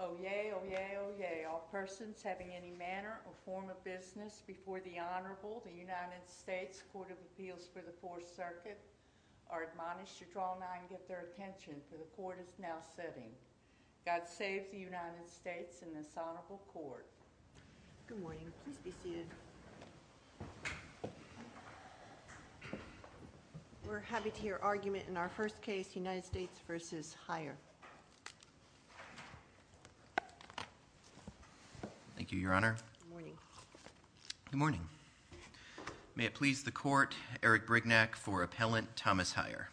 Oyez, oyez, oyez, all persons having any manner or form of business before the Honorable, the United States Court of Appeals for the Fourth Circuit, are admonished to draw nigh and get their attention, for the Court is now sitting. God save the United States and this Honorable Court. Good morning. Please be seated. We're happy to hear argument in our first case, United States v. Heyer. Thank you, Your Honor. Good morning. Good morning. May it please the Court, Eric Brignac for Appellant Thomas Heyer.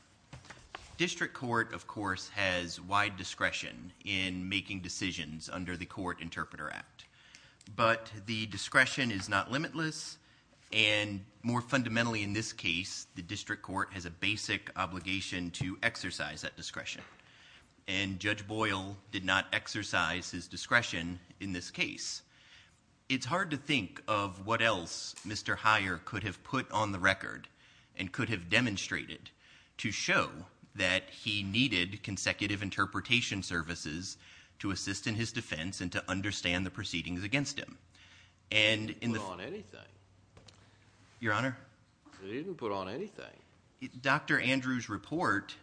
District Court, of course, has wide discretion in making decisions under the Court Interpreter Act, but the discretion is not limitless, and more fundamentally in this case, the District Court has a basic obligation to exercise that discretion, and Judge Boyle did not exercise his discretion in this case. It's hard to think of what else Mr. Heyer could have put on the record and could have demonstrated to show that he needed consecutive interpretation services to assist in his defense and to understand the proceedings against him. He didn't put on anything. Your Honor? He didn't put on anything. Dr. Andrews' report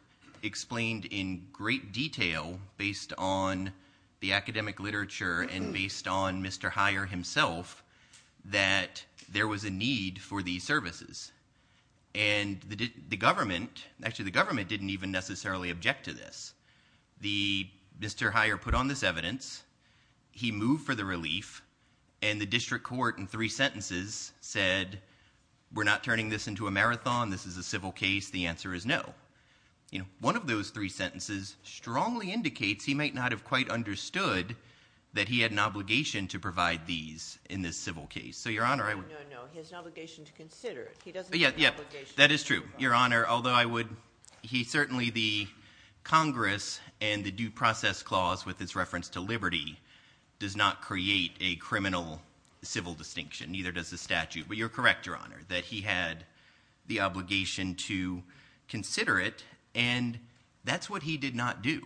explained in great detail, based on the academic literature and based on Mr. Heyer himself, that there was a need for these services, and the government, actually the government didn't even necessarily object to this. Mr. Heyer put on this evidence, he moved for the relief, and the District Court in three sentences said, we're not turning this into a marathon, this is a civil case, the answer is no. One of those three sentences strongly indicates he might not have quite understood that he had an obligation to provide these in this civil case. No, no, no, he has an obligation to consider it. That is true, Your Honor. Although I would, he certainly, the Congress and the Due Process Clause with its reference to liberty does not create a criminal civil distinction, neither does the statute, but you're correct, Your Honor, that he had the obligation to consider it, and that's what he did not do.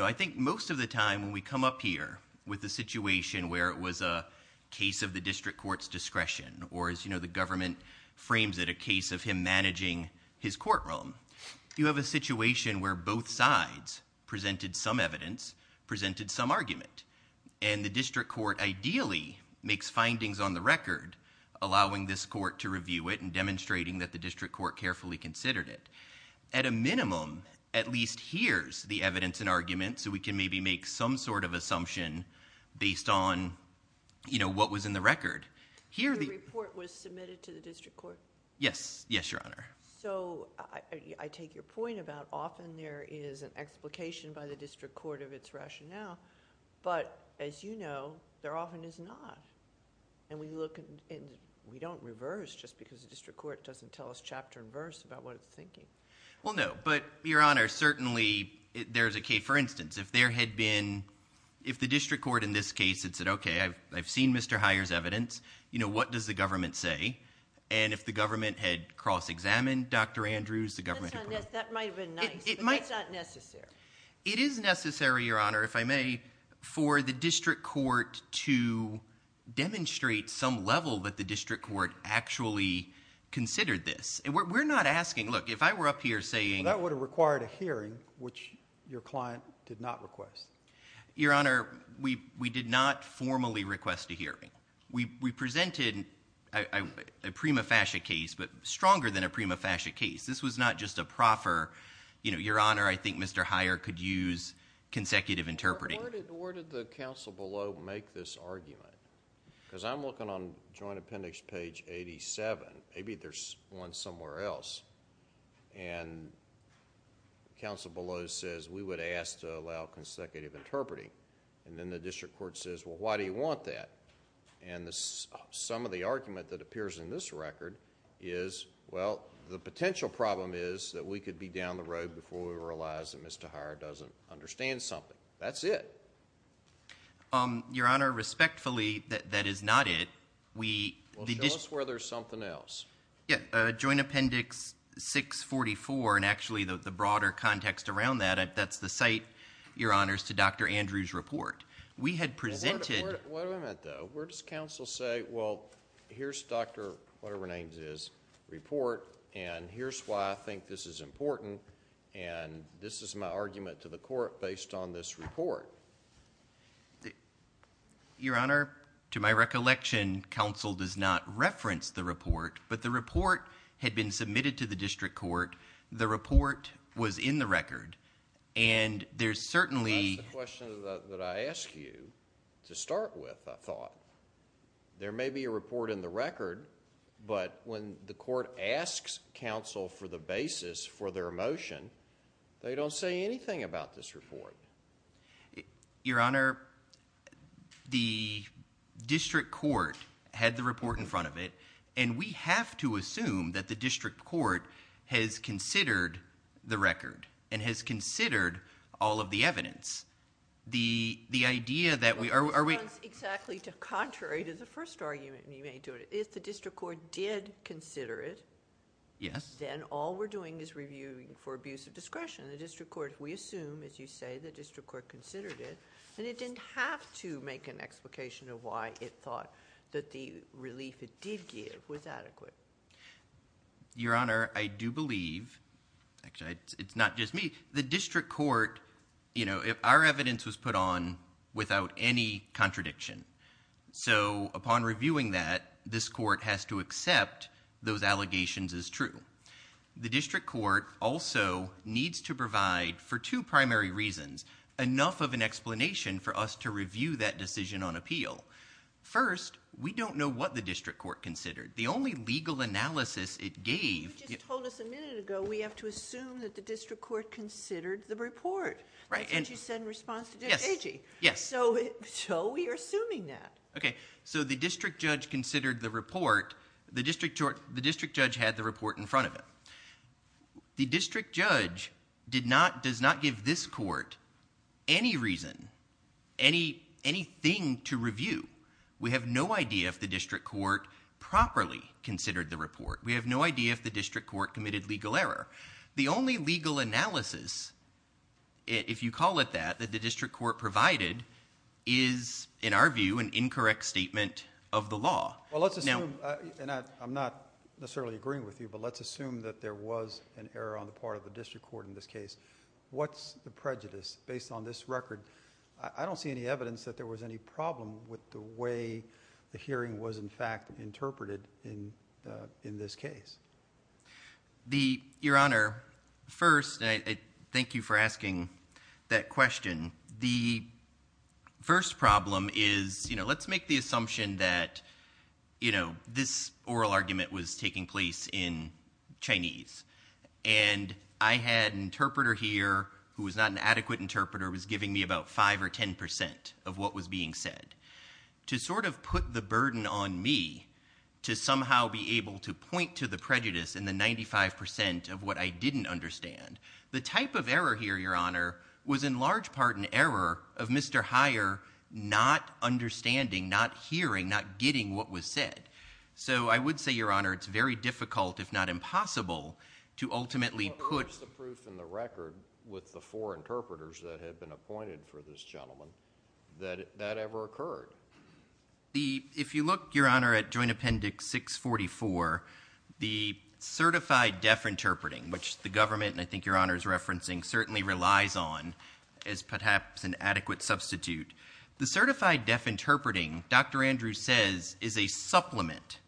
I think most of the time when we come up here with the situation where it was a case of the District Court's discretion or, as you know, the government frames it a case of him managing his courtroom, you have a situation where both sides presented some evidence, presented some argument, and the District Court ideally makes findings on the record, allowing this court to review it and demonstrating that the District Court carefully considered it. At a minimum, at least here's the evidence and argument so we can maybe make some sort of assumption based on, you know, what was in the record. The report was submitted to the District Court? Yes. Yes, Your Honor. So I take your point about often there is an explication by the District Court of its rationale, but as you know, there often is not, and we look and we don't reverse just because the District Court doesn't tell us chapter and verse about what it's thinking. Well, no, but, Your Honor, certainly there's a case, for instance, if there had been, if the District Court in this case had said, Okay, I've seen Mr. Heyer's evidence. You know, what does the government say? And if the government had cross-examined Dr. Andrews, the government... That might have been nice, but that's not necessary. It is necessary, Your Honor, if I may, for the District Court to demonstrate some level that the District Court actually considered this. We're not asking, look, if I were up here saying... Well, that would have required a hearing, which your client did not request. Your Honor, we did not formally request a hearing. We presented a prima facie case, but stronger than a prima facie case. This was not just a proper, you know, Your Honor, I think Mr. Heyer could use consecutive interpreting. Where did the counsel below make this argument? Because I'm looking on Joint Appendix page 87. Maybe there's one somewhere else, and counsel below says we would ask to allow consecutive interpreting. And then the District Court says, well, why do you want that? And some of the argument that appears in this record is, well, the potential problem is that we could be down the road before we realize that Mr. Heyer doesn't understand something. That's it. Your Honor, respectfully, that is not it. Well, show us where there's something else. Yeah, Joint Appendix 644, and actually the broader context around that, that's the site, Your Honor, to Dr. Andrews' report. We had presented... Wait a minute, though. Where does counsel say, well, here's Dr. whatever-her-name-is report, and here's why I think this is important, and this is my argument to the court based on this report? Your Honor, to my recollection, counsel does not reference the report, but the report had been submitted to the District Court. The report was in the record, and there's certainly... That's the question that I asked you to start with, I thought. There may be a report in the record, but when the court asks counsel for the basis for their motion, they don't say anything about this report. Your Honor, the District Court had the report in front of it, and we have to assume that the District Court has considered the record and has considered all of the evidence. The idea that we... That's exactly contrary to the first argument, and you may do it. If the District Court did consider it, then all we're doing is reviewing for abuse of discretion. The District Court, we assume, as you say, the District Court considered it, and it didn't have to make an explication of why it thought that the relief it did give was adequate. Your Honor, I do believe... Actually, it's not just me. The District Court... Our evidence was put on without any contradiction, so upon reviewing that, this court has to accept those allegations as true. The District Court also needs to provide, for two primary reasons, enough of an explanation for us to review that decision on appeal. First, we don't know what the District Court considered. The only legal analysis it gave... You just told us a minute ago we have to assume that the District Court considered the report. That's what you said in response to Judge Agee. Yes. So we are assuming that. Okay, so the District Judge considered the report. The District Judge had the report in front of him. The District Judge does not give this court any reason, anything to review. We have no idea if the District Court properly considered the report. We have no idea if the District Court committed legal error. The only legal analysis, if you call it that, that the District Court provided is, in our view, an incorrect statement of the law. Well, let's assume... And I'm not necessarily agreeing with you, but let's assume that there was an error on the part of the District Court in this case. What's the prejudice based on this record? I don't see any evidence that there was any problem with the way the hearing was, in fact, interpreted in this case. Your Honor, first... Thank you for asking that question. The first problem is... Let's make the assumption that, you know, this oral argument was taking place in Chinese, and I had an interpreter here who was not an adequate interpreter, was giving me about 5% or 10% of what was being said. To sort of put the burden on me to somehow be able to point to the prejudice in the 95% of what I didn't understand, the type of error here, Your Honor, was in large part an error of Mr Heyer not understanding, not hearing, not getting what was said. So I would say, Your Honor, it's very difficult, if not impossible, to ultimately put... What was the proof in the record with the four interpreters that had been appointed for this gentleman that that ever occurred? If you look, Your Honor, at Joint Appendix 644, the certified deaf interpreting, which the government, and I think Your Honor is referencing, certainly relies on as perhaps an adequate substitute. The certified deaf interpreting, Dr Andrews says, is a supplement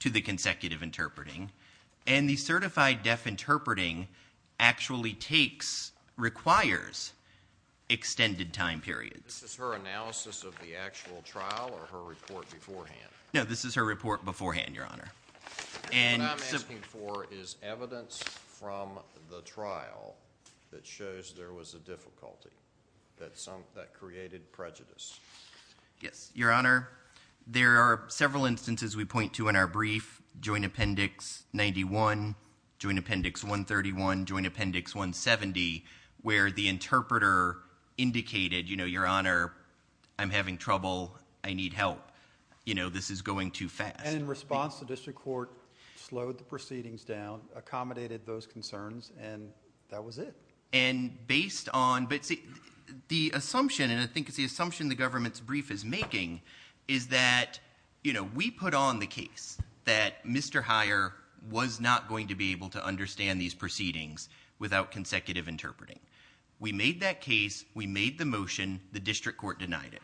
to the consecutive interpreting, and the certified deaf interpreting actually takes... requires extended time periods. This is her analysis of the actual trial or her report beforehand? No, this is her report beforehand, Your Honor. What I'm asking for is evidence from the trial that shows there was a difficulty that created prejudice. Yes, Your Honor, there are several instances we point to in our brief, Joint Appendix 91, Joint Appendix 131, Joint Appendix 170, where the interpreter indicated, you know, Your Honor, I'm having trouble, I need help. You know, this is going too fast. And in response, the district court slowed the proceedings down, accommodated those concerns, and that was it. And based on... But the assumption, and I think it's the assumption the government's brief is making, is that, you know, we put on the case that Mr. Heyer was not going to be able to understand these proceedings without consecutive interpreting. We made that case, we made the motion, the district court denied it.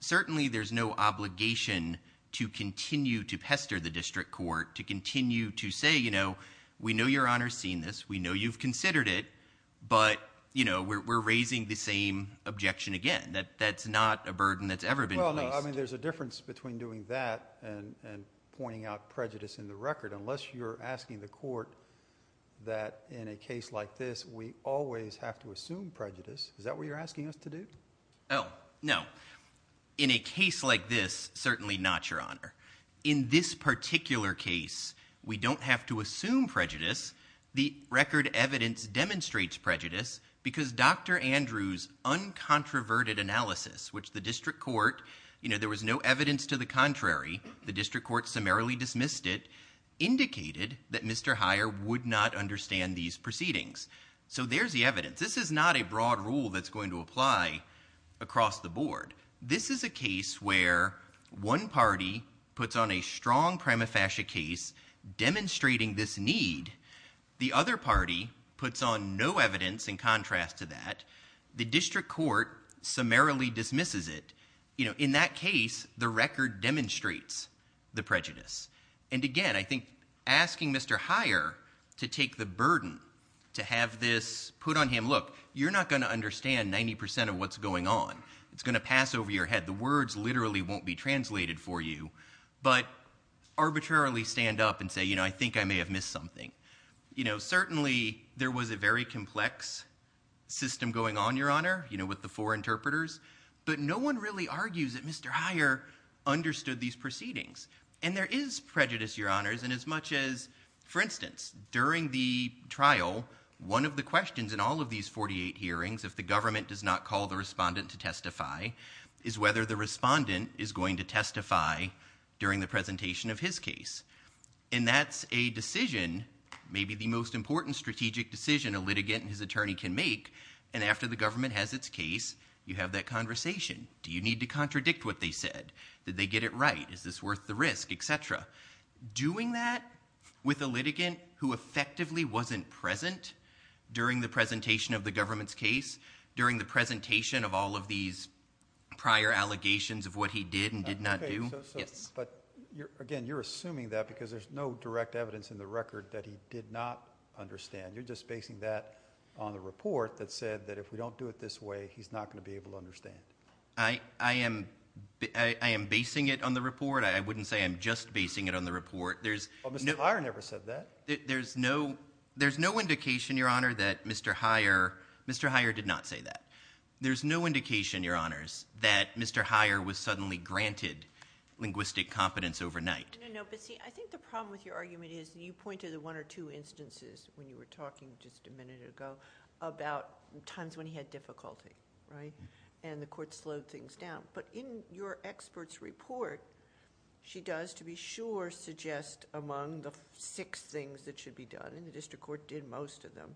Certainly there's no obligation to continue to pester the district court to continue to say, you know, we know Your Honor's seen this, we know you've considered it, but, you know, we're raising the same objection again. That's not a burden that's ever been placed. Well, no, I mean, there's a difference between doing that and pointing out prejudice in the record. Unless you're asking the court that in a case like this we always have to assume prejudice, is that what you're asking us to do? Oh, no. In a case like this, certainly not, Your Honor. In this particular case, we don't have to assume prejudice. The record evidence demonstrates prejudice because Dr. Andrews' uncontroverted analysis, which the district court, you know, there was no evidence to the contrary, the district court summarily dismissed it, indicated that Mr. Heyer would not understand these proceedings. So there's the evidence. This is not a broad rule that's going to apply across the board. This is a case where one party puts on a strong prima facie case demonstrating this need. The other party puts on no evidence in contrast to that. The district court summarily dismisses it. You know, in that case, the record demonstrates the prejudice. And again, I think asking Mr. Heyer to take the burden to have this put on him, look, you're not going to understand 90% of what's going on. It's going to pass over your head. The words literally won't be translated for you. But arbitrarily stand up and say, you know, I think I may have missed something. You know, certainly there was a very complex system going on, Your Honor, you know, with the four interpreters. But no one really argues that Mr. Heyer understood these proceedings. And there is prejudice, Your Honors, in as much as, for instance, during the trial, one of the questions in all of these 48 hearings, if the government does not call the respondent to testify, is whether the respondent is going to testify during the presentation of his case. And that's a decision, maybe the most important strategic decision a litigant and his attorney can make. And after the government has its case, you have that conversation. Do you need to contradict what they said? Did they get it right? Is this worth the risk, et cetera? Doing that with a litigant who effectively wasn't present during the presentation of the government's case, during the presentation of all of these prior allegations of what he did and did not do? Yes. But, again, you're assuming that because there's no direct evidence in the record that he did not understand. You're just basing that on the report that said that if we don't do it this way, he's not going to be able to understand. I am basing it on the report. I wouldn't say I'm just basing it on the report. Mr. Heyer never said that. There's no indication, Your Honor, that Mr. Heyer did not say that. There's no indication, Your Honors, that Mr. Heyer was suddenly granted linguistic competence overnight. No, but, see, I think the problem with your argument is that you pointed to one or two instances when you were talking just a minute ago about times when he had difficulty, right? And the court slowed things down. But in your expert's report, she does, to be sure, suggest among the six things that should be done, and the district court did most of them,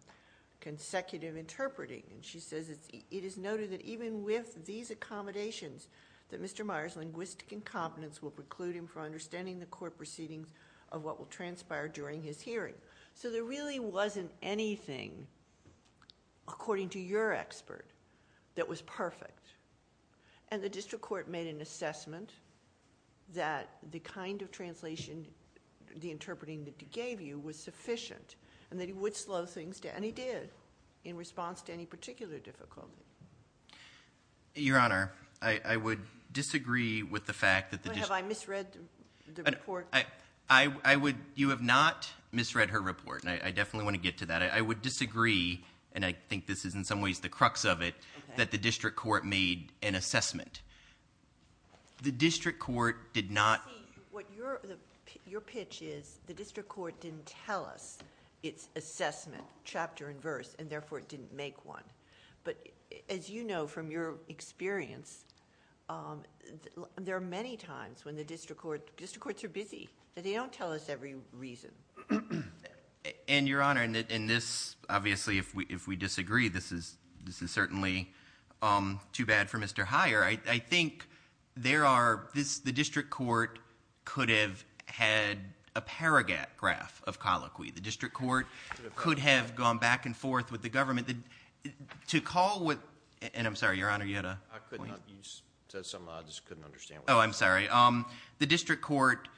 consecutive interpreting. And she says it is noted that even with these accommodations that Mr. Heyer's linguistic incompetence will preclude him from understanding the court proceedings of what will transpire during his hearing. So there really wasn't anything, according to your expert, that was perfect. And the district court made an assessment that the kind of translation, the interpreting that he gave you, was sufficient, and that he would slow things down. And he did, in response to any particular difficulty. Your Honor, I would disagree with the fact that the district court... But have I misread the report? I would... You have not misread her report, and I definitely want to get to that. I would disagree, and I think this is in some ways the crux of it, that the district court made an assessment. The district court did not... See, what your pitch is, the district court didn't tell us its assessment, chapter and verse, and therefore it didn't make one. But as you know from your experience, there are many times when the district court... District courts are busy. They don't tell us every reason. And, Your Honor, in this, obviously, if we disagree, this is certainly too bad for Mr Hyer. I think there are... The district court could have had a paragraph of colloquy. The district court could have gone back and forth with the government. To call with... And I'm sorry, Your Honor, you had a point? You said something I just couldn't understand. Oh, I'm sorry. The district court...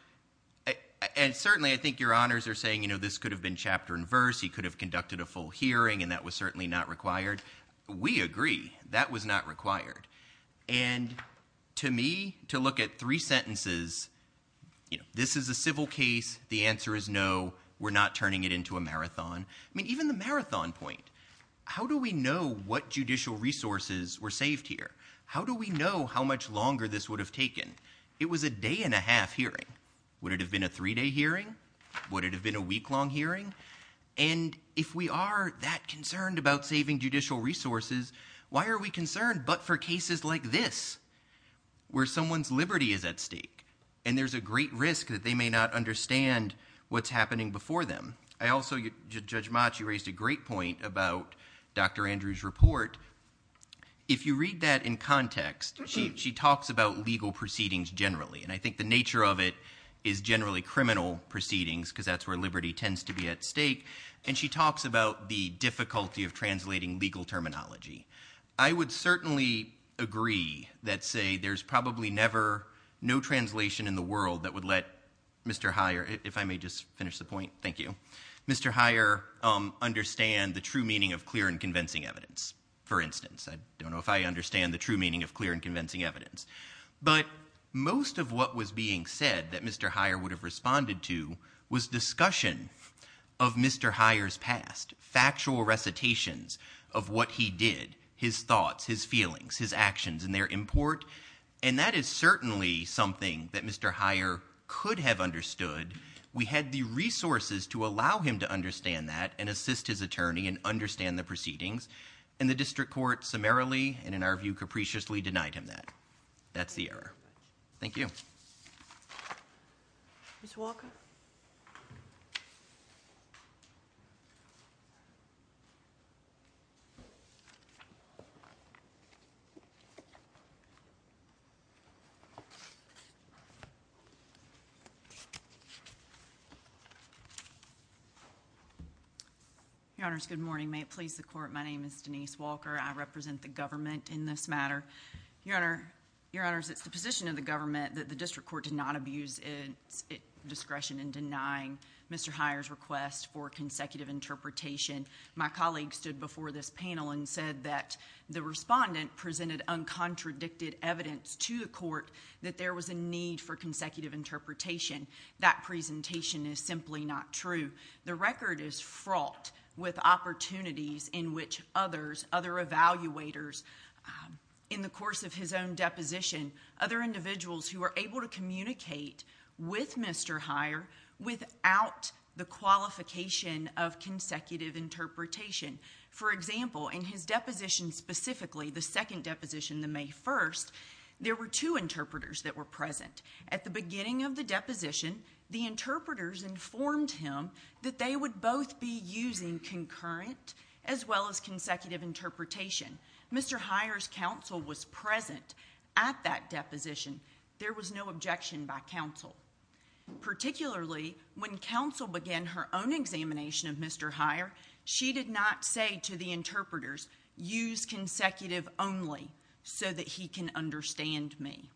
And certainly I think Your Honors are saying, you know, this could have been chapter and verse, he could have conducted a full hearing, and that was certainly not required. We agree, that was not required. And to me, to look at three sentences, you know, this is a civil case, the answer is no, we're not turning it into a marathon. I mean, even the marathon point. How do we know what judicial resources were saved here? How do we know how much longer this would have taken? It was a day-and-a-half hearing. Would it have been a three-day hearing? Would it have been a week-long hearing? And if we are that concerned about saving judicial resources, why are we concerned but for cases like this, where someone's liberty is at stake, and there's a great risk that they may not understand what's happening before them? I also... Judge Mott, you raised a great point about Dr Andrews' report. If you read that in context, she talks about legal proceedings generally, and I think the nature of it is generally criminal proceedings, because that's where liberty tends to be at stake, and she talks about the difficulty of translating legal terminology. I would certainly agree that, say, there's probably never no translation in the world that would let Mr Heyer... If I may just finish the point. Thank you. Mr Heyer understand the true meaning of clear and convincing evidence, for instance. I don't know if I understand the true meaning of clear and convincing evidence. But most of what was being said that Mr Heyer would have responded to was discussion of Mr Heyer's past, factual recitations of what he did, his thoughts, his feelings, his actions, and their import. And that is certainly something that Mr Heyer could have understood. We had the resources to allow him to understand that and assist his attorney and understand the proceedings, and the district court summarily, and in our view capriciously, we denied him that. That's the error. Thank you. Ms. Walker. Your Honors, good morning. May it please the Court, my name is Denise Walker. I represent the government in this matter. Your Honors, it's the position of the government that the district court did not abuse its discretion in denying Mr Heyer's request for consecutive interpretation. My colleague stood before this panel and said that the respondent presented uncontradicted evidence to the court that there was a need for consecutive interpretation. That presentation is simply not true. The record is fraught with opportunities in which others, other evaluators, in the course of his own deposition, other individuals who are able to communicate with Mr Heyer without the qualification of consecutive interpretation. For example, in his deposition specifically, the second deposition, the May 1st, there were two interpreters that were present. At the beginning of the deposition, the interpreters informed him that they would both be using concurrent as well as consecutive interpretation. Mr Heyer's counsel was present at that deposition. There was no objection by counsel. Particularly when counsel began her own examination of Mr Heyer, she did not say to the interpreters, use consecutive only so that he can understand me.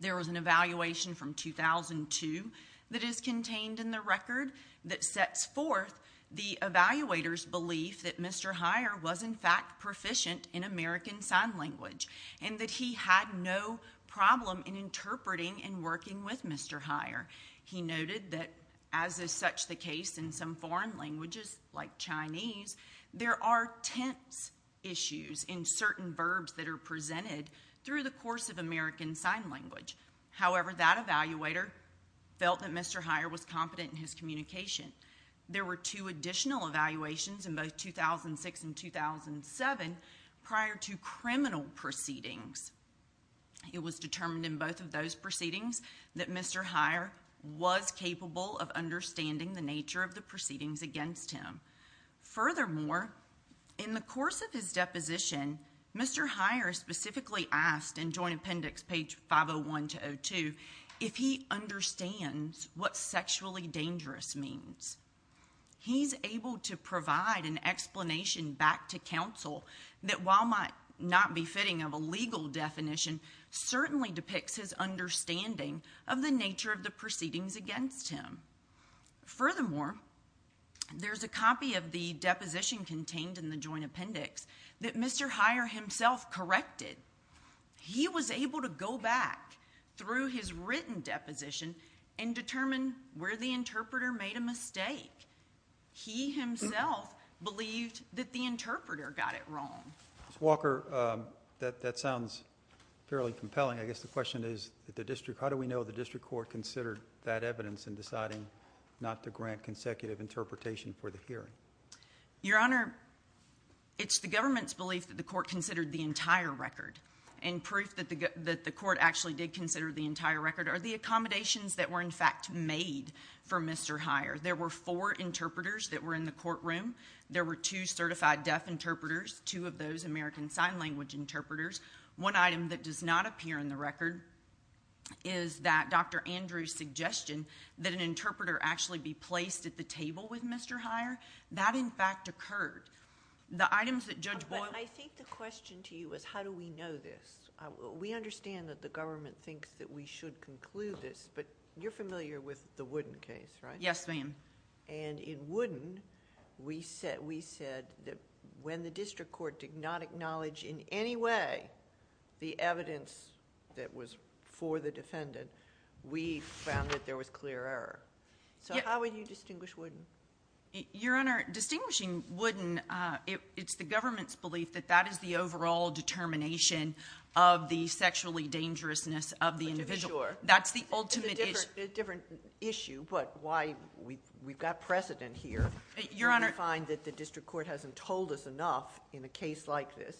There was an evaluation from 2002 that is contained in the record that sets forth the evaluator's belief that Mr Heyer was in fact proficient in American Sign Language and that he had no problem in interpreting and working with Mr Heyer. He noted that, as is such the case in some foreign languages like Chinese, there are tense issues in certain verbs that are presented through the course of American Sign Language. However, that evaluator felt that Mr Heyer was competent in his communication. There were two additional evaluations in both 2006 and 2007 prior to criminal proceedings. It was determined in both of those proceedings that Mr Heyer was capable of understanding the nature of the proceedings against him. Furthermore, in the course of his deposition, Mr Heyer specifically asked in Joint Appendix page 501-02 if he understands what sexually dangerous means. He's able to provide an explanation back to counsel that, while not befitting of a legal definition, certainly depicts his understanding of the nature of the proceedings against him. Furthermore, there's a copy of the deposition contained in the Joint Appendix that Mr Heyer himself corrected. He was able to go back through his written deposition and determine where the interpreter made a mistake. He himself believed that the interpreter got it wrong. Ms. Walker, that sounds fairly compelling. I guess the question is, how do we know the district court not to grant consecutive interpretation for the hearing? Your Honor, it's the government's belief that the court considered the entire record, and proof that the court actually did consider the entire record are the accommodations that were in fact made for Mr Heyer. There were four interpreters that were in the courtroom. There were two certified deaf interpreters, two of those American Sign Language interpreters. One item that does not appear in the record is that Dr Andrews' suggestion that an interpreter actually be placed at the table with Mr Heyer, that in fact occurred. The items that Judge Boyle... But I think the question to you is, how do we know this? We understand that the government thinks that we should conclude this, but you're familiar with the Wooden case, right? Yes, ma'am. In Wooden, we said that when the district court did not acknowledge in any way the evidence that was for the defendant, we found that there was clear error. How would you distinguish Wooden? Your Honor, distinguishing Wooden, it's the government's belief that that is the overall determination of the sexually dangerousness of the individual. Sure. That's the ultimate issue. It's a different issue, but why... We've got precedent here. Your Honor... We find that the district court hasn't told us enough in a case like this.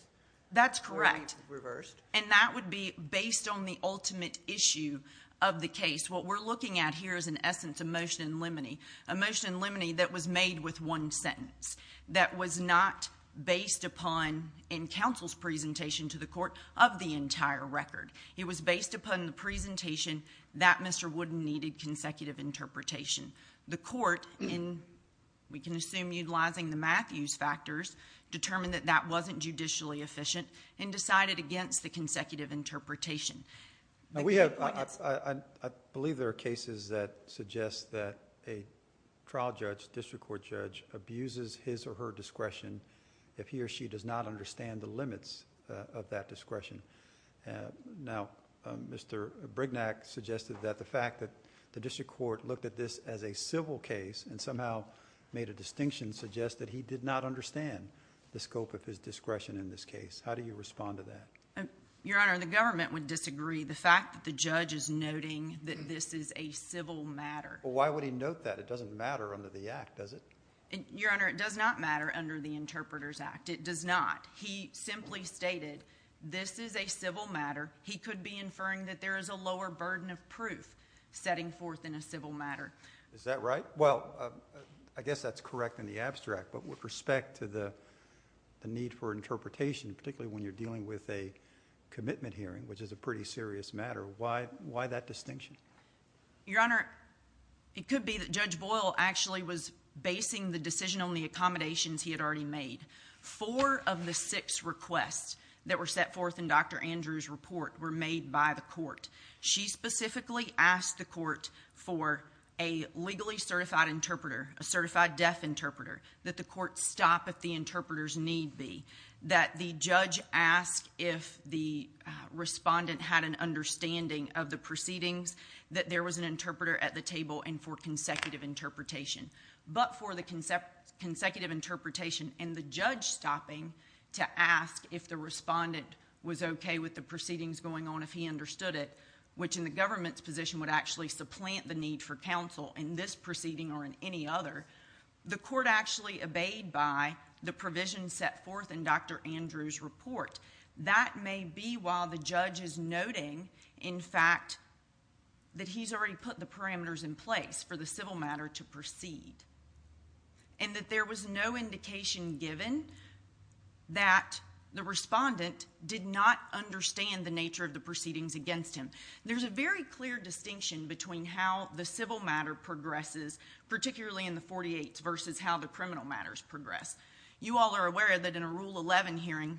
That's correct. Or we've reversed. And that would be based on the ultimate issue of the case. What we're looking at here is, in essence, emotion and liminy. Emotion and liminy that was made with one sentence. That was not based upon, in counsel's presentation to the court, of the entire record. It was based upon the presentation that Mr. Wooden needed consecutive interpretation. The court, we can assume utilizing the Matthews factors, determined that that wasn't judicially efficient and decided against the consecutive interpretation. I believe there are cases that suggest that a trial judge, district court judge, abuses his or her discretion if he or she does not understand the limits of that discretion. Now, Mr. Brignac suggested that the fact that the district court looked at this as a civil case and somehow made a distinction suggests that he did not understand the scope of his discretion in this case. How do you respond to that? Your Honor, the government would disagree. The fact that the judge is noting that this is a civil matter. Why would he note that? It doesn't matter under the Act, does it? Your Honor, it does not matter under the Interpreter's Act. It does not. He simply stated this is a civil matter. He could be inferring that there is a lower burden of proof setting forth in a civil matter. Is that right? Well, I guess that's correct in the abstract, but with respect to the need for interpretation, particularly when you're dealing with a commitment hearing, which is a pretty serious matter, why that distinction? Your Honor, it could be that Judge Boyle actually was basing the decision on the accommodations he had already made. Four of the six requests that were set forth in Dr. Andrews' report were made by the court. She specifically asked the court for a legally certified interpreter, a certified deaf interpreter, that the court stop if the interpreter's need be, that the judge ask if the respondent had an understanding of the proceedings, that there was an interpreter at the table, and for consecutive interpretation. But for the consecutive interpretation and the judge stopping to ask if the respondent was okay with the proceedings going on, if he understood it, which in the government's position would actually supplant the need for counsel in this proceeding or in any other, the court actually obeyed by the provisions set forth in Dr. Andrews' report. That may be while the judge is noting, in fact, that he's already put the parameters in place for the civil matter to proceed and that there was no indication given that the respondent did not understand the nature of the proceedings against him. There's a very clear distinction between how the civil matter progresses, particularly in the 48s, versus how the criminal matters progress. You all are aware that in a Rule 11 hearing,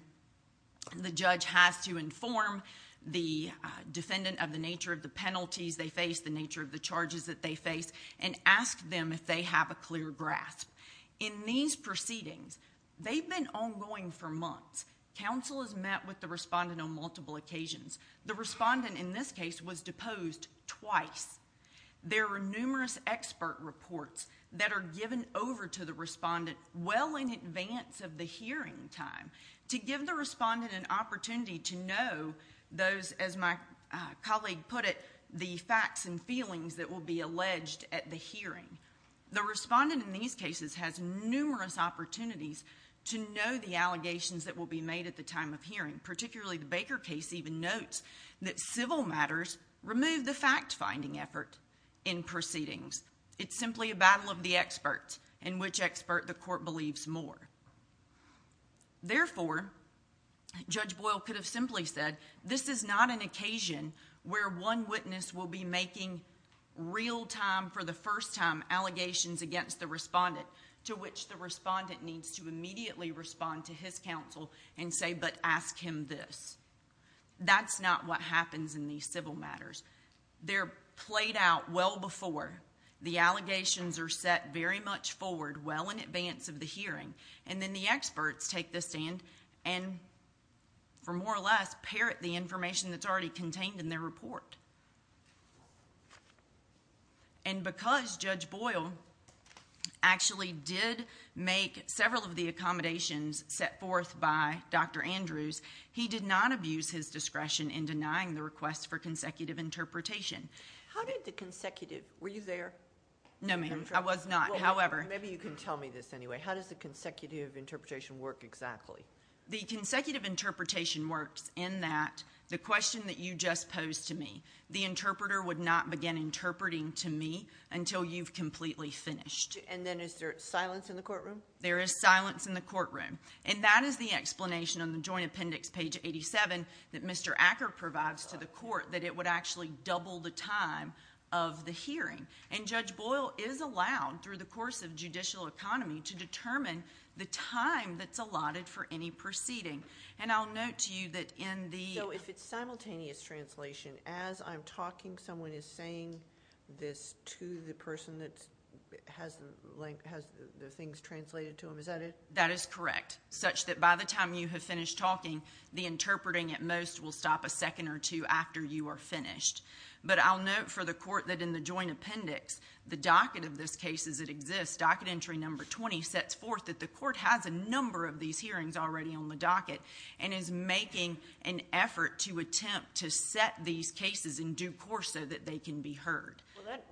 the judge has to inform the defendant of the nature of the penalties they face, the nature of the charges that they face, and ask them if they have a clear grasp. In these proceedings, they've been ongoing for months. Counsel is met with the respondent on multiple occasions. The respondent in this case was deposed twice. There were numerous expert reports that are given over to the respondent well in advance of the hearing time to give the respondent an opportunity to know those, as my colleague put it, the facts and feelings that will be alleged at the hearing. The respondent in these cases has numerous opportunities to know the allegations that will be made at the time of hearing, particularly the Baker case even notes that civil matters remove the fact-finding effort in proceedings. It's simply a battle of the experts and which expert the court believes more. Therefore, Judge Boyle could have simply said, this is not an occasion where one witness will be making real-time, for the first time, allegations against the respondent to which the respondent needs to immediately respond to his counsel and say, but ask him this. That's not what happens in these civil matters. They're played out well before. The allegations are set very much forward well in advance of the hearing, and then the experts take the stand and, for more or less, parrot the information that's already contained in their report. And because Judge Boyle actually did make several of the accommodations set forth by Dr. Andrews, he did not abuse his discretion in denying the request for consecutive interpretation. How did the consecutive... Were you there? No, ma'am. I was not. However... Maybe you can tell me this anyway. How does the consecutive interpretation work exactly? The consecutive interpretation works in that the question that you just posed to me, the interpreter would not begin interpreting to me until you've completely finished. And then is there silence in the courtroom? There is silence in the courtroom. And that is the explanation on the Joint Appendix, page 87, that Mr. Acker provides to the court, that it would actually double the time of the hearing. And Judge Boyle is allowed, through the course of judicial economy, to determine the time that's allotted for any proceeding. And I'll note to you that in the... So if it's simultaneous translation, as I'm talking, someone is saying this to the person that has the things translated to them, is that it? That is correct. Such that by the time you have finished talking, the interpreting at most will stop a second or two after you are finished. But I'll note for the court that in the Joint Appendix, the docket of this case as it exists, docket entry number 20, sets forth that the court has a number of these hearings already on the docket and is making an effort to attempt to set these cases in due course so that they can be heard. Well, that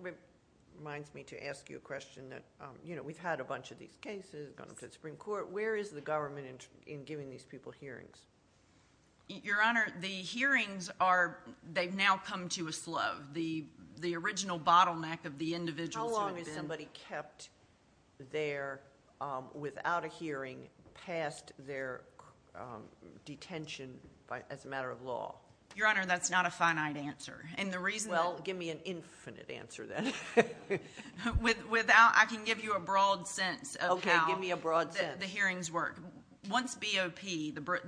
reminds me to ask you a question that... You know, we've had a bunch of these cases, gone up to the Supreme Court. Where is the government in giving these people hearings? Your Honour, the hearings are... They've now come to a slow. The original bottleneck of the individuals who have been... How long has somebody kept there without a hearing past their detention as a matter of law? Your Honour, that's not a finite answer. Well, give me an infinite answer then. I can give you a broad sense of how the hearings work. Okay, give me a broad sense. Once BOP,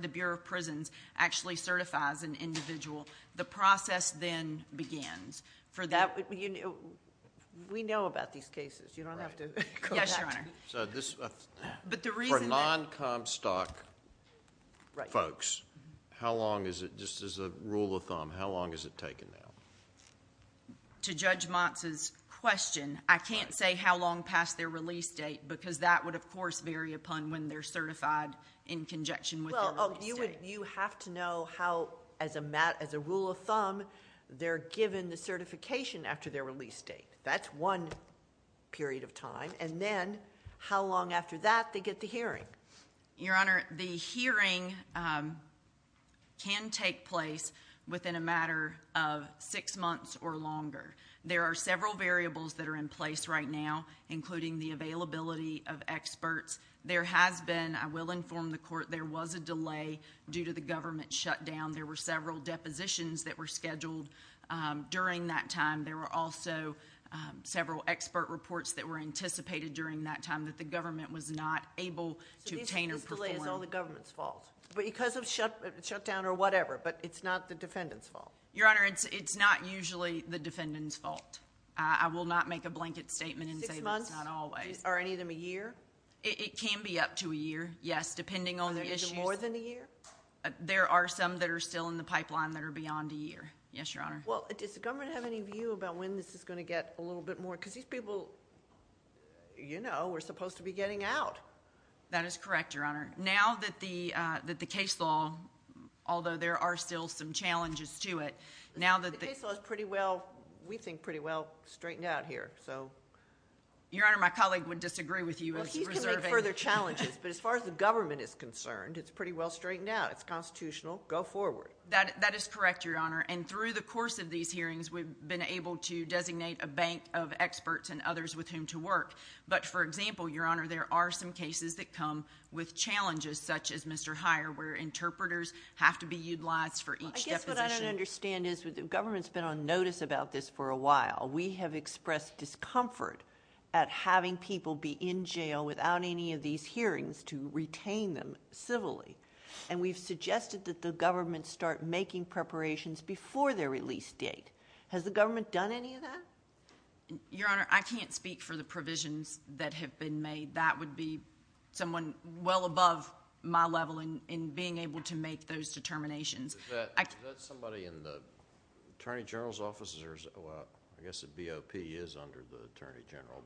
the Bureau of Prisons, actually certifies an individual, the process then begins. We know about these cases. You don't have to come back to me. Yes, Your Honour. But the reason that... how long is it, just as a rule of thumb, how long has it taken now? To Judge Motz's question, I can't say how long past their release date because that would, of course, vary upon when they're certified in conjunction with their release date. Well, you have to know how, as a rule of thumb, they're given the certification after their release date. That's one period of time. And then, how long after that they get the hearing? Your Honour, the hearing can take place within a matter of six months or longer. There are several variables that are in place right now, including the availability of experts. There has been, I will inform the Court, there was a delay due to the government shutdown. There were several depositions that were scheduled during that time. There were also several expert reports that were anticipated during that time that the government was not able to obtain or perform. So this delay is all the government's fault? Because of shutdown or whatever, but it's not the defendant's fault? Your Honour, it's not usually the defendant's fault. I will not make a blanket statement and say that it's not always. Six months? Are any of them a year? It can be up to a year, yes, depending on the issues. Are there even more than a year? There are some that are still in the pipeline that are beyond a year. Yes, Your Honour. Well, does the government have any view about when this is going to get a little bit more? Because these people, you know, were supposed to be getting out. That is correct, Your Honour. Now that the case law, although there are still some challenges to it... The case law is pretty well... we think pretty well straightened out here, so... Your Honour, my colleague would disagree with you. Well, he can make further challenges, but as far as the government is concerned, it's pretty well straightened out. It's constitutional. Go forward. That is correct, Your Honour. And through the course of these hearings, we've been able to designate a bank of experts and others with whom to work. But, for example, Your Honour, there are some cases that come with challenges, such as Mr. Heyer, where interpreters have to be utilized for each deposition. I guess what I don't understand is, the government's been on notice about this for a while. We have expressed discomfort at having people be in jail without any of these hearings to retain them civilly. And we've suggested that the government start making preparations before their release date. Has the government done any of that? Your Honour, I can't speak for the provisions that have been made. That would be someone well above my level in being able to make those determinations. Is that somebody in the Attorney General's office? I guess the BOP is under the Attorney General.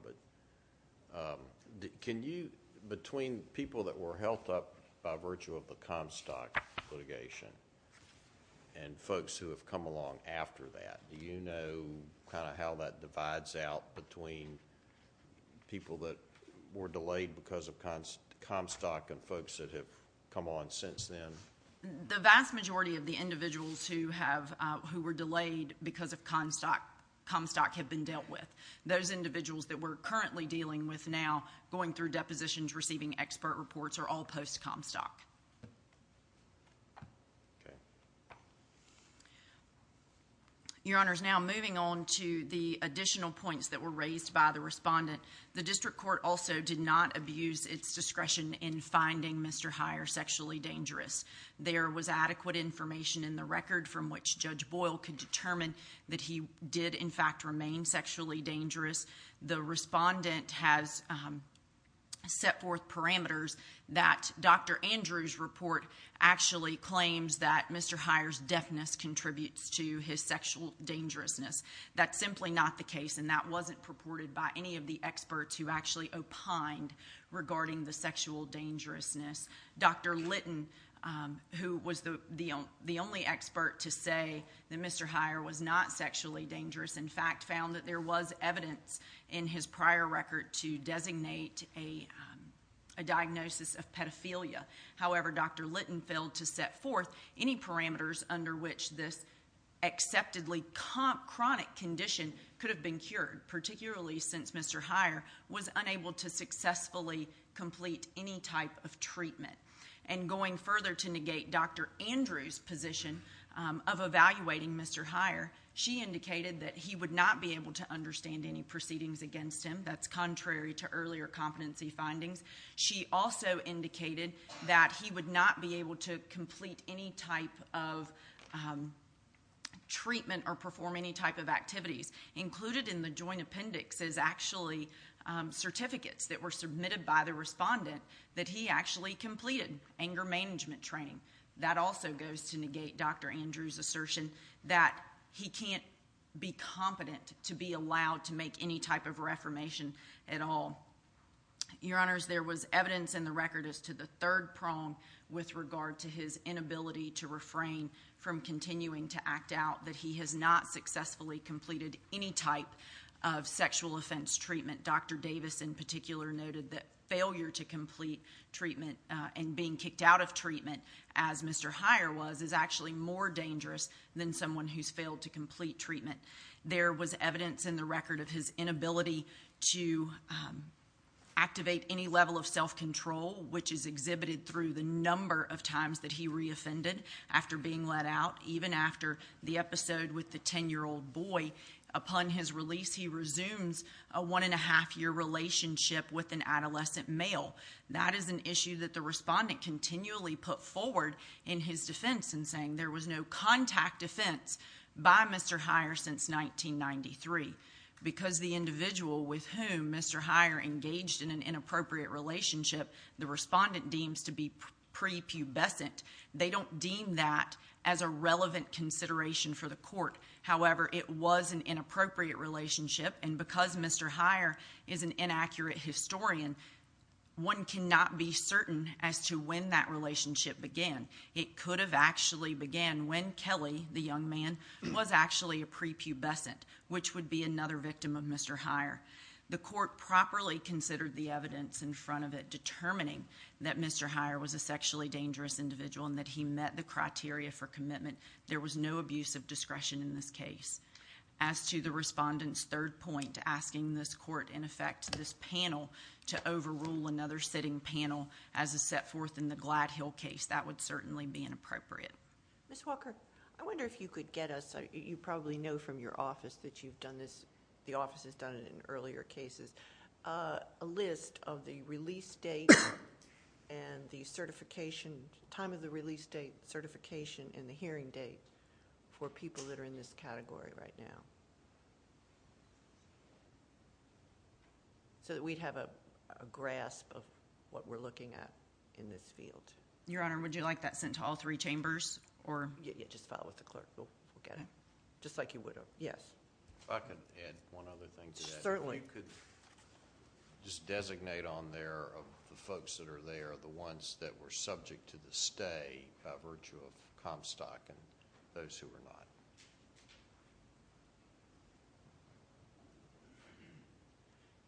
Between people that were held up by virtue of the Comstock litigation and folks who have come along after that, do you know how that divides out between people that were delayed because of Comstock and folks that have come on since then? The vast majority of the individuals who were delayed because of Comstock have been dealt with. Those individuals that we're currently dealing with now, going through depositions, receiving expert reports, are all post-Comstock. Your Honour, now moving on to the additional points that were raised by the respondent. The district court also did not abuse its discretion in finding Mr. Heyer sexually dangerous. There was adequate information in the record from which Judge Boyle could determine that he did, in fact, remain sexually dangerous. The respondent has set forth parameters that Dr. Andrews' report actually claims that Mr. Heyer's deafness contributes to his sexual dangerousness. That's simply not the case, and that wasn't purported by any of the experts who actually opined regarding the sexual dangerousness. Dr. Litton, who was the only expert to say that Mr. Heyer was not sexually dangerous, in fact, found that there was evidence in his prior record to designate a diagnosis of pedophilia. However, Dr. Litton failed to set forth any parameters under which this acceptably chronic condition could have been cured, particularly since Mr. Heyer was unable to successfully complete any type of treatment. And going further to negate Dr. Andrews' position of evaluating Mr. Heyer, she indicated that he would not be able to understand any proceedings against him. That's contrary to earlier competency findings. She also indicated that he would not be able to complete any type of treatment or perform any type of activities. Included in the joint appendix is actually certificates that were submitted by the respondent that he actually completed anger management training. That also goes to negate Dr. Andrews' assertion that he can't be competent to be allowed to make any type of reformation at all. Your Honors, there was evidence in the record as to the third prong with regard to his inability to refrain from continuing to act out that he has not successfully completed any type of sexual offense treatment. Dr. Davis in particular noted that failure to complete treatment and being kicked out of treatment as Mr. Heyer was is actually more dangerous than someone who's failed to complete treatment. There was evidence in the record of his inability to activate any level of self-control, which is exhibited through the number of times that he re-offended after being let out, even after the episode with the 10-year-old boy. Upon his release, he resumes a one-and-a-half-year relationship with an adolescent male. That is an issue that the respondent continually put forward in his defense in saying there was no contact defense by Mr. Heyer since 1993. Because the individual with whom Mr. Heyer engaged in an inappropriate relationship, the respondent deems to be prepubescent. They don't deem that as a relevant consideration for the court. However, it was an inappropriate relationship, and because Mr. Heyer is an inaccurate historian, one cannot be certain as to when that relationship began. It could have actually began when Kelly, the young man, was actually a prepubescent, which would be another victim of Mr. Heyer. The court properly considered the evidence in front of it, determining that Mr. Heyer was a sexually dangerous individual and that he met the criteria for commitment. There was no abuse of discretion in this case. As to the respondent's third point, asking this court, in effect, this panel, to overrule another sitting panel as is set forth in the Glide Hill case, that would certainly be inappropriate. Ms. Walker, I wonder if you could get us, you probably know from your office that you've done this, the office has done it in earlier cases, a list of the release date and the certification, time of the release date, certification, and the hearing date for people that are in this category right now. So that we'd have a grasp of what we're looking at in this field. Your Honor, would you like that sent to all three chambers? Yeah, yeah, just follow up with the clerk. We'll get it. Just like you would have. Yes. If I could add one other thing to that. Certainly. If you could just designate on there the folks that are there, the ones that were subject to the stay by virtue of Comstock and those who were not.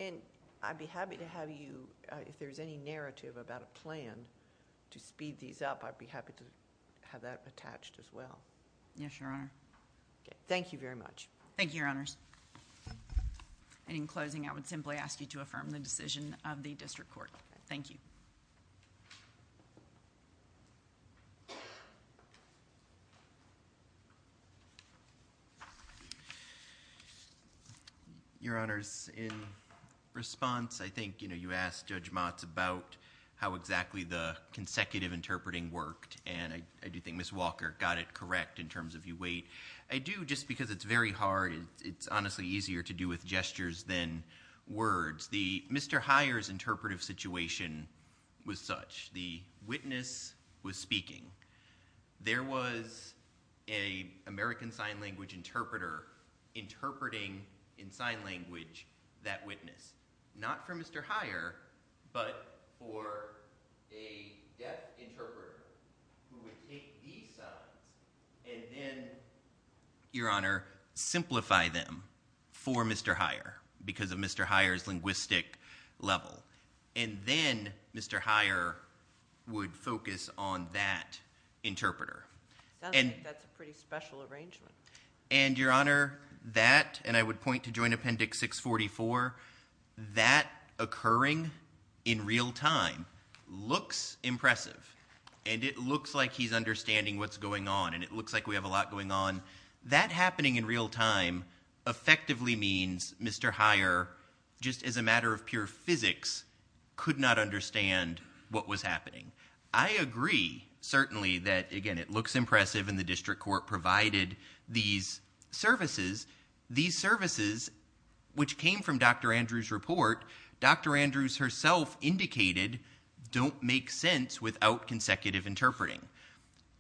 And I'd be happy to have you, if there's any narrative about a plan to speed these up, I'd be happy to have that attached as well. Yes, Your Honor. Thank you very much. Thank you, Your Honors. And in closing, I would simply ask you to affirm the decision of the District Court. Thank you. Your Honors, in response, I think you asked Judge Motz about how exactly the consecutive interpreting worked, and I do think Ms. Walker got it correct in terms of you wait. I do, just because it's very hard, it's honestly easier to do with gestures than words. Mr. Heyer's interpretive situation was such. The witness was speaking. There was an American Sign Language interpreter interpreting in sign language that witness. Not for Mr. Heyer, but for a deaf interpreter who would take these signs and then, Your Honor, simplify them for Mr. Heyer because of Mr. Heyer's linguistic level. And then Mr. Heyer would focus on that interpreter. Sounds like that's a pretty special arrangement. And, Your Honor, that, and I would point to Joint Appendix 644, that occurring in real time looks impressive. And it looks like he's understanding what's going on, and it looks like we have a lot going on. That happening in real time effectively means Mr. Heyer, just as a matter of pure physics, could not understand what was happening. I agree, certainly, that, again, it looks impressive, and the district court provided these services. These services, which came from Dr. Andrews' report, Dr. Andrews herself indicated don't make sense without consecutive interpreting.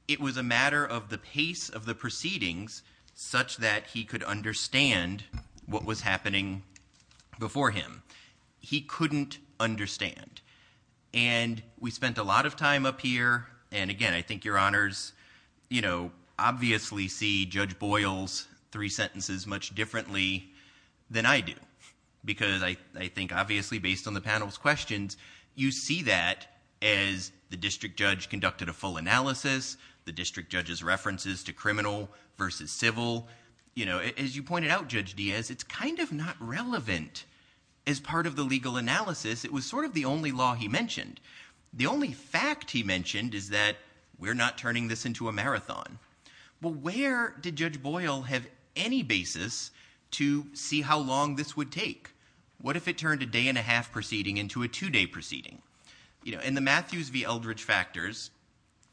It was a matter of the pace of the proceedings such that he could understand what was happening before him. He couldn't understand. And we spent a lot of time up here, and, again, I think Your Honors, you know, obviously see Judge Boyle's three sentences much differently than I do because I think, obviously, based on the panel's questions, you see that as the district judge conducted a full analysis, the district judge's references to criminal versus civil. You know, as you pointed out, Judge Diaz, it's kind of not relevant as part of the legal analysis. It was sort of the only law he mentioned. The only fact he mentioned is that we're not turning this into a marathon. Well, where did Judge Boyle have any basis to see how long this would take? What if it turned a day-and-a-half proceeding into a two-day proceeding? You know, in the Matthews v. Eldridge factors,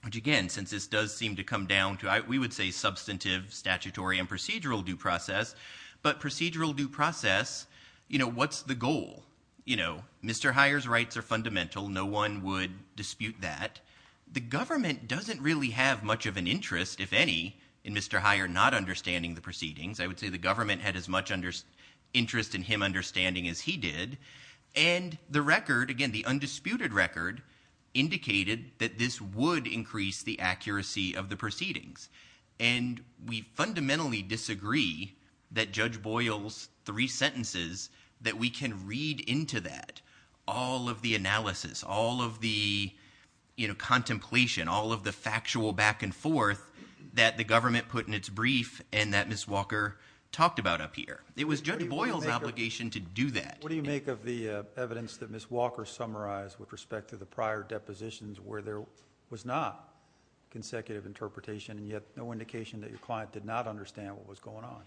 which, again, since this does seem to come down to, we would say substantive, statutory, and procedural due process, but procedural due process, you know, what's the goal? You know, Mr. Heyer's rights are fundamental. No one would dispute that. The government doesn't really have much of an interest, if any, in Mr. Heyer not understanding the proceedings. I would say the government had as much interest in him understanding as he did, and the record, again, the undisputed record, indicated that this would increase the accuracy of the proceedings. And we fundamentally disagree that Judge Boyle's three sentences, that we can read into that all of the analysis, all of the, you know, contemplation, all of the factual back-and-forth that the government put in its brief and that Ms. Walker talked about up here. It was Judge Boyle's obligation to do that. What do you make of the evidence that Ms. Walker summarized with respect to the prior depositions where there was not consecutive interpretation and yet no indication that your client did not understand what was going on?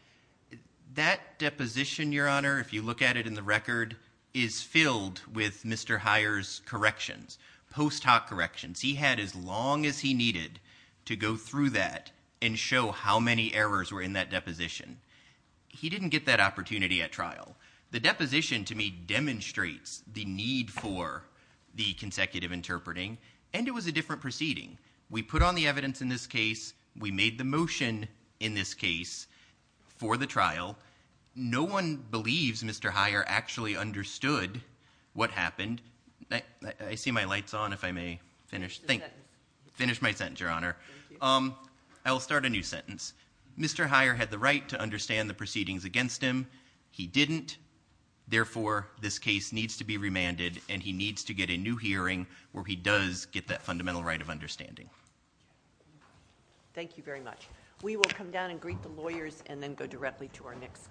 That deposition, Your Honor, if you look at it in the record, is filled with Mr. Heyer's corrections, post hoc corrections. He had as long as he needed to go through that and show how many errors were in that deposition. He didn't get that opportunity at trial. The deposition, to me, demonstrates the need for the consecutive interpreting, and it was a different proceeding. We put on the evidence in this case. We made the motion in this case for the trial. No one believes Mr. Heyer actually understood what happened. I see my light's on, if I may finish. Thank you. Finish my sentence, Your Honor. I will start a new sentence. Mr. Heyer had the right to understand the proceedings against him. He didn't. Therefore, this case needs to be remanded, and he needs to get a new hearing where he does get that fundamental right of understanding. Thank you very much. We will come down and greet the lawyers and then go directly to our next case.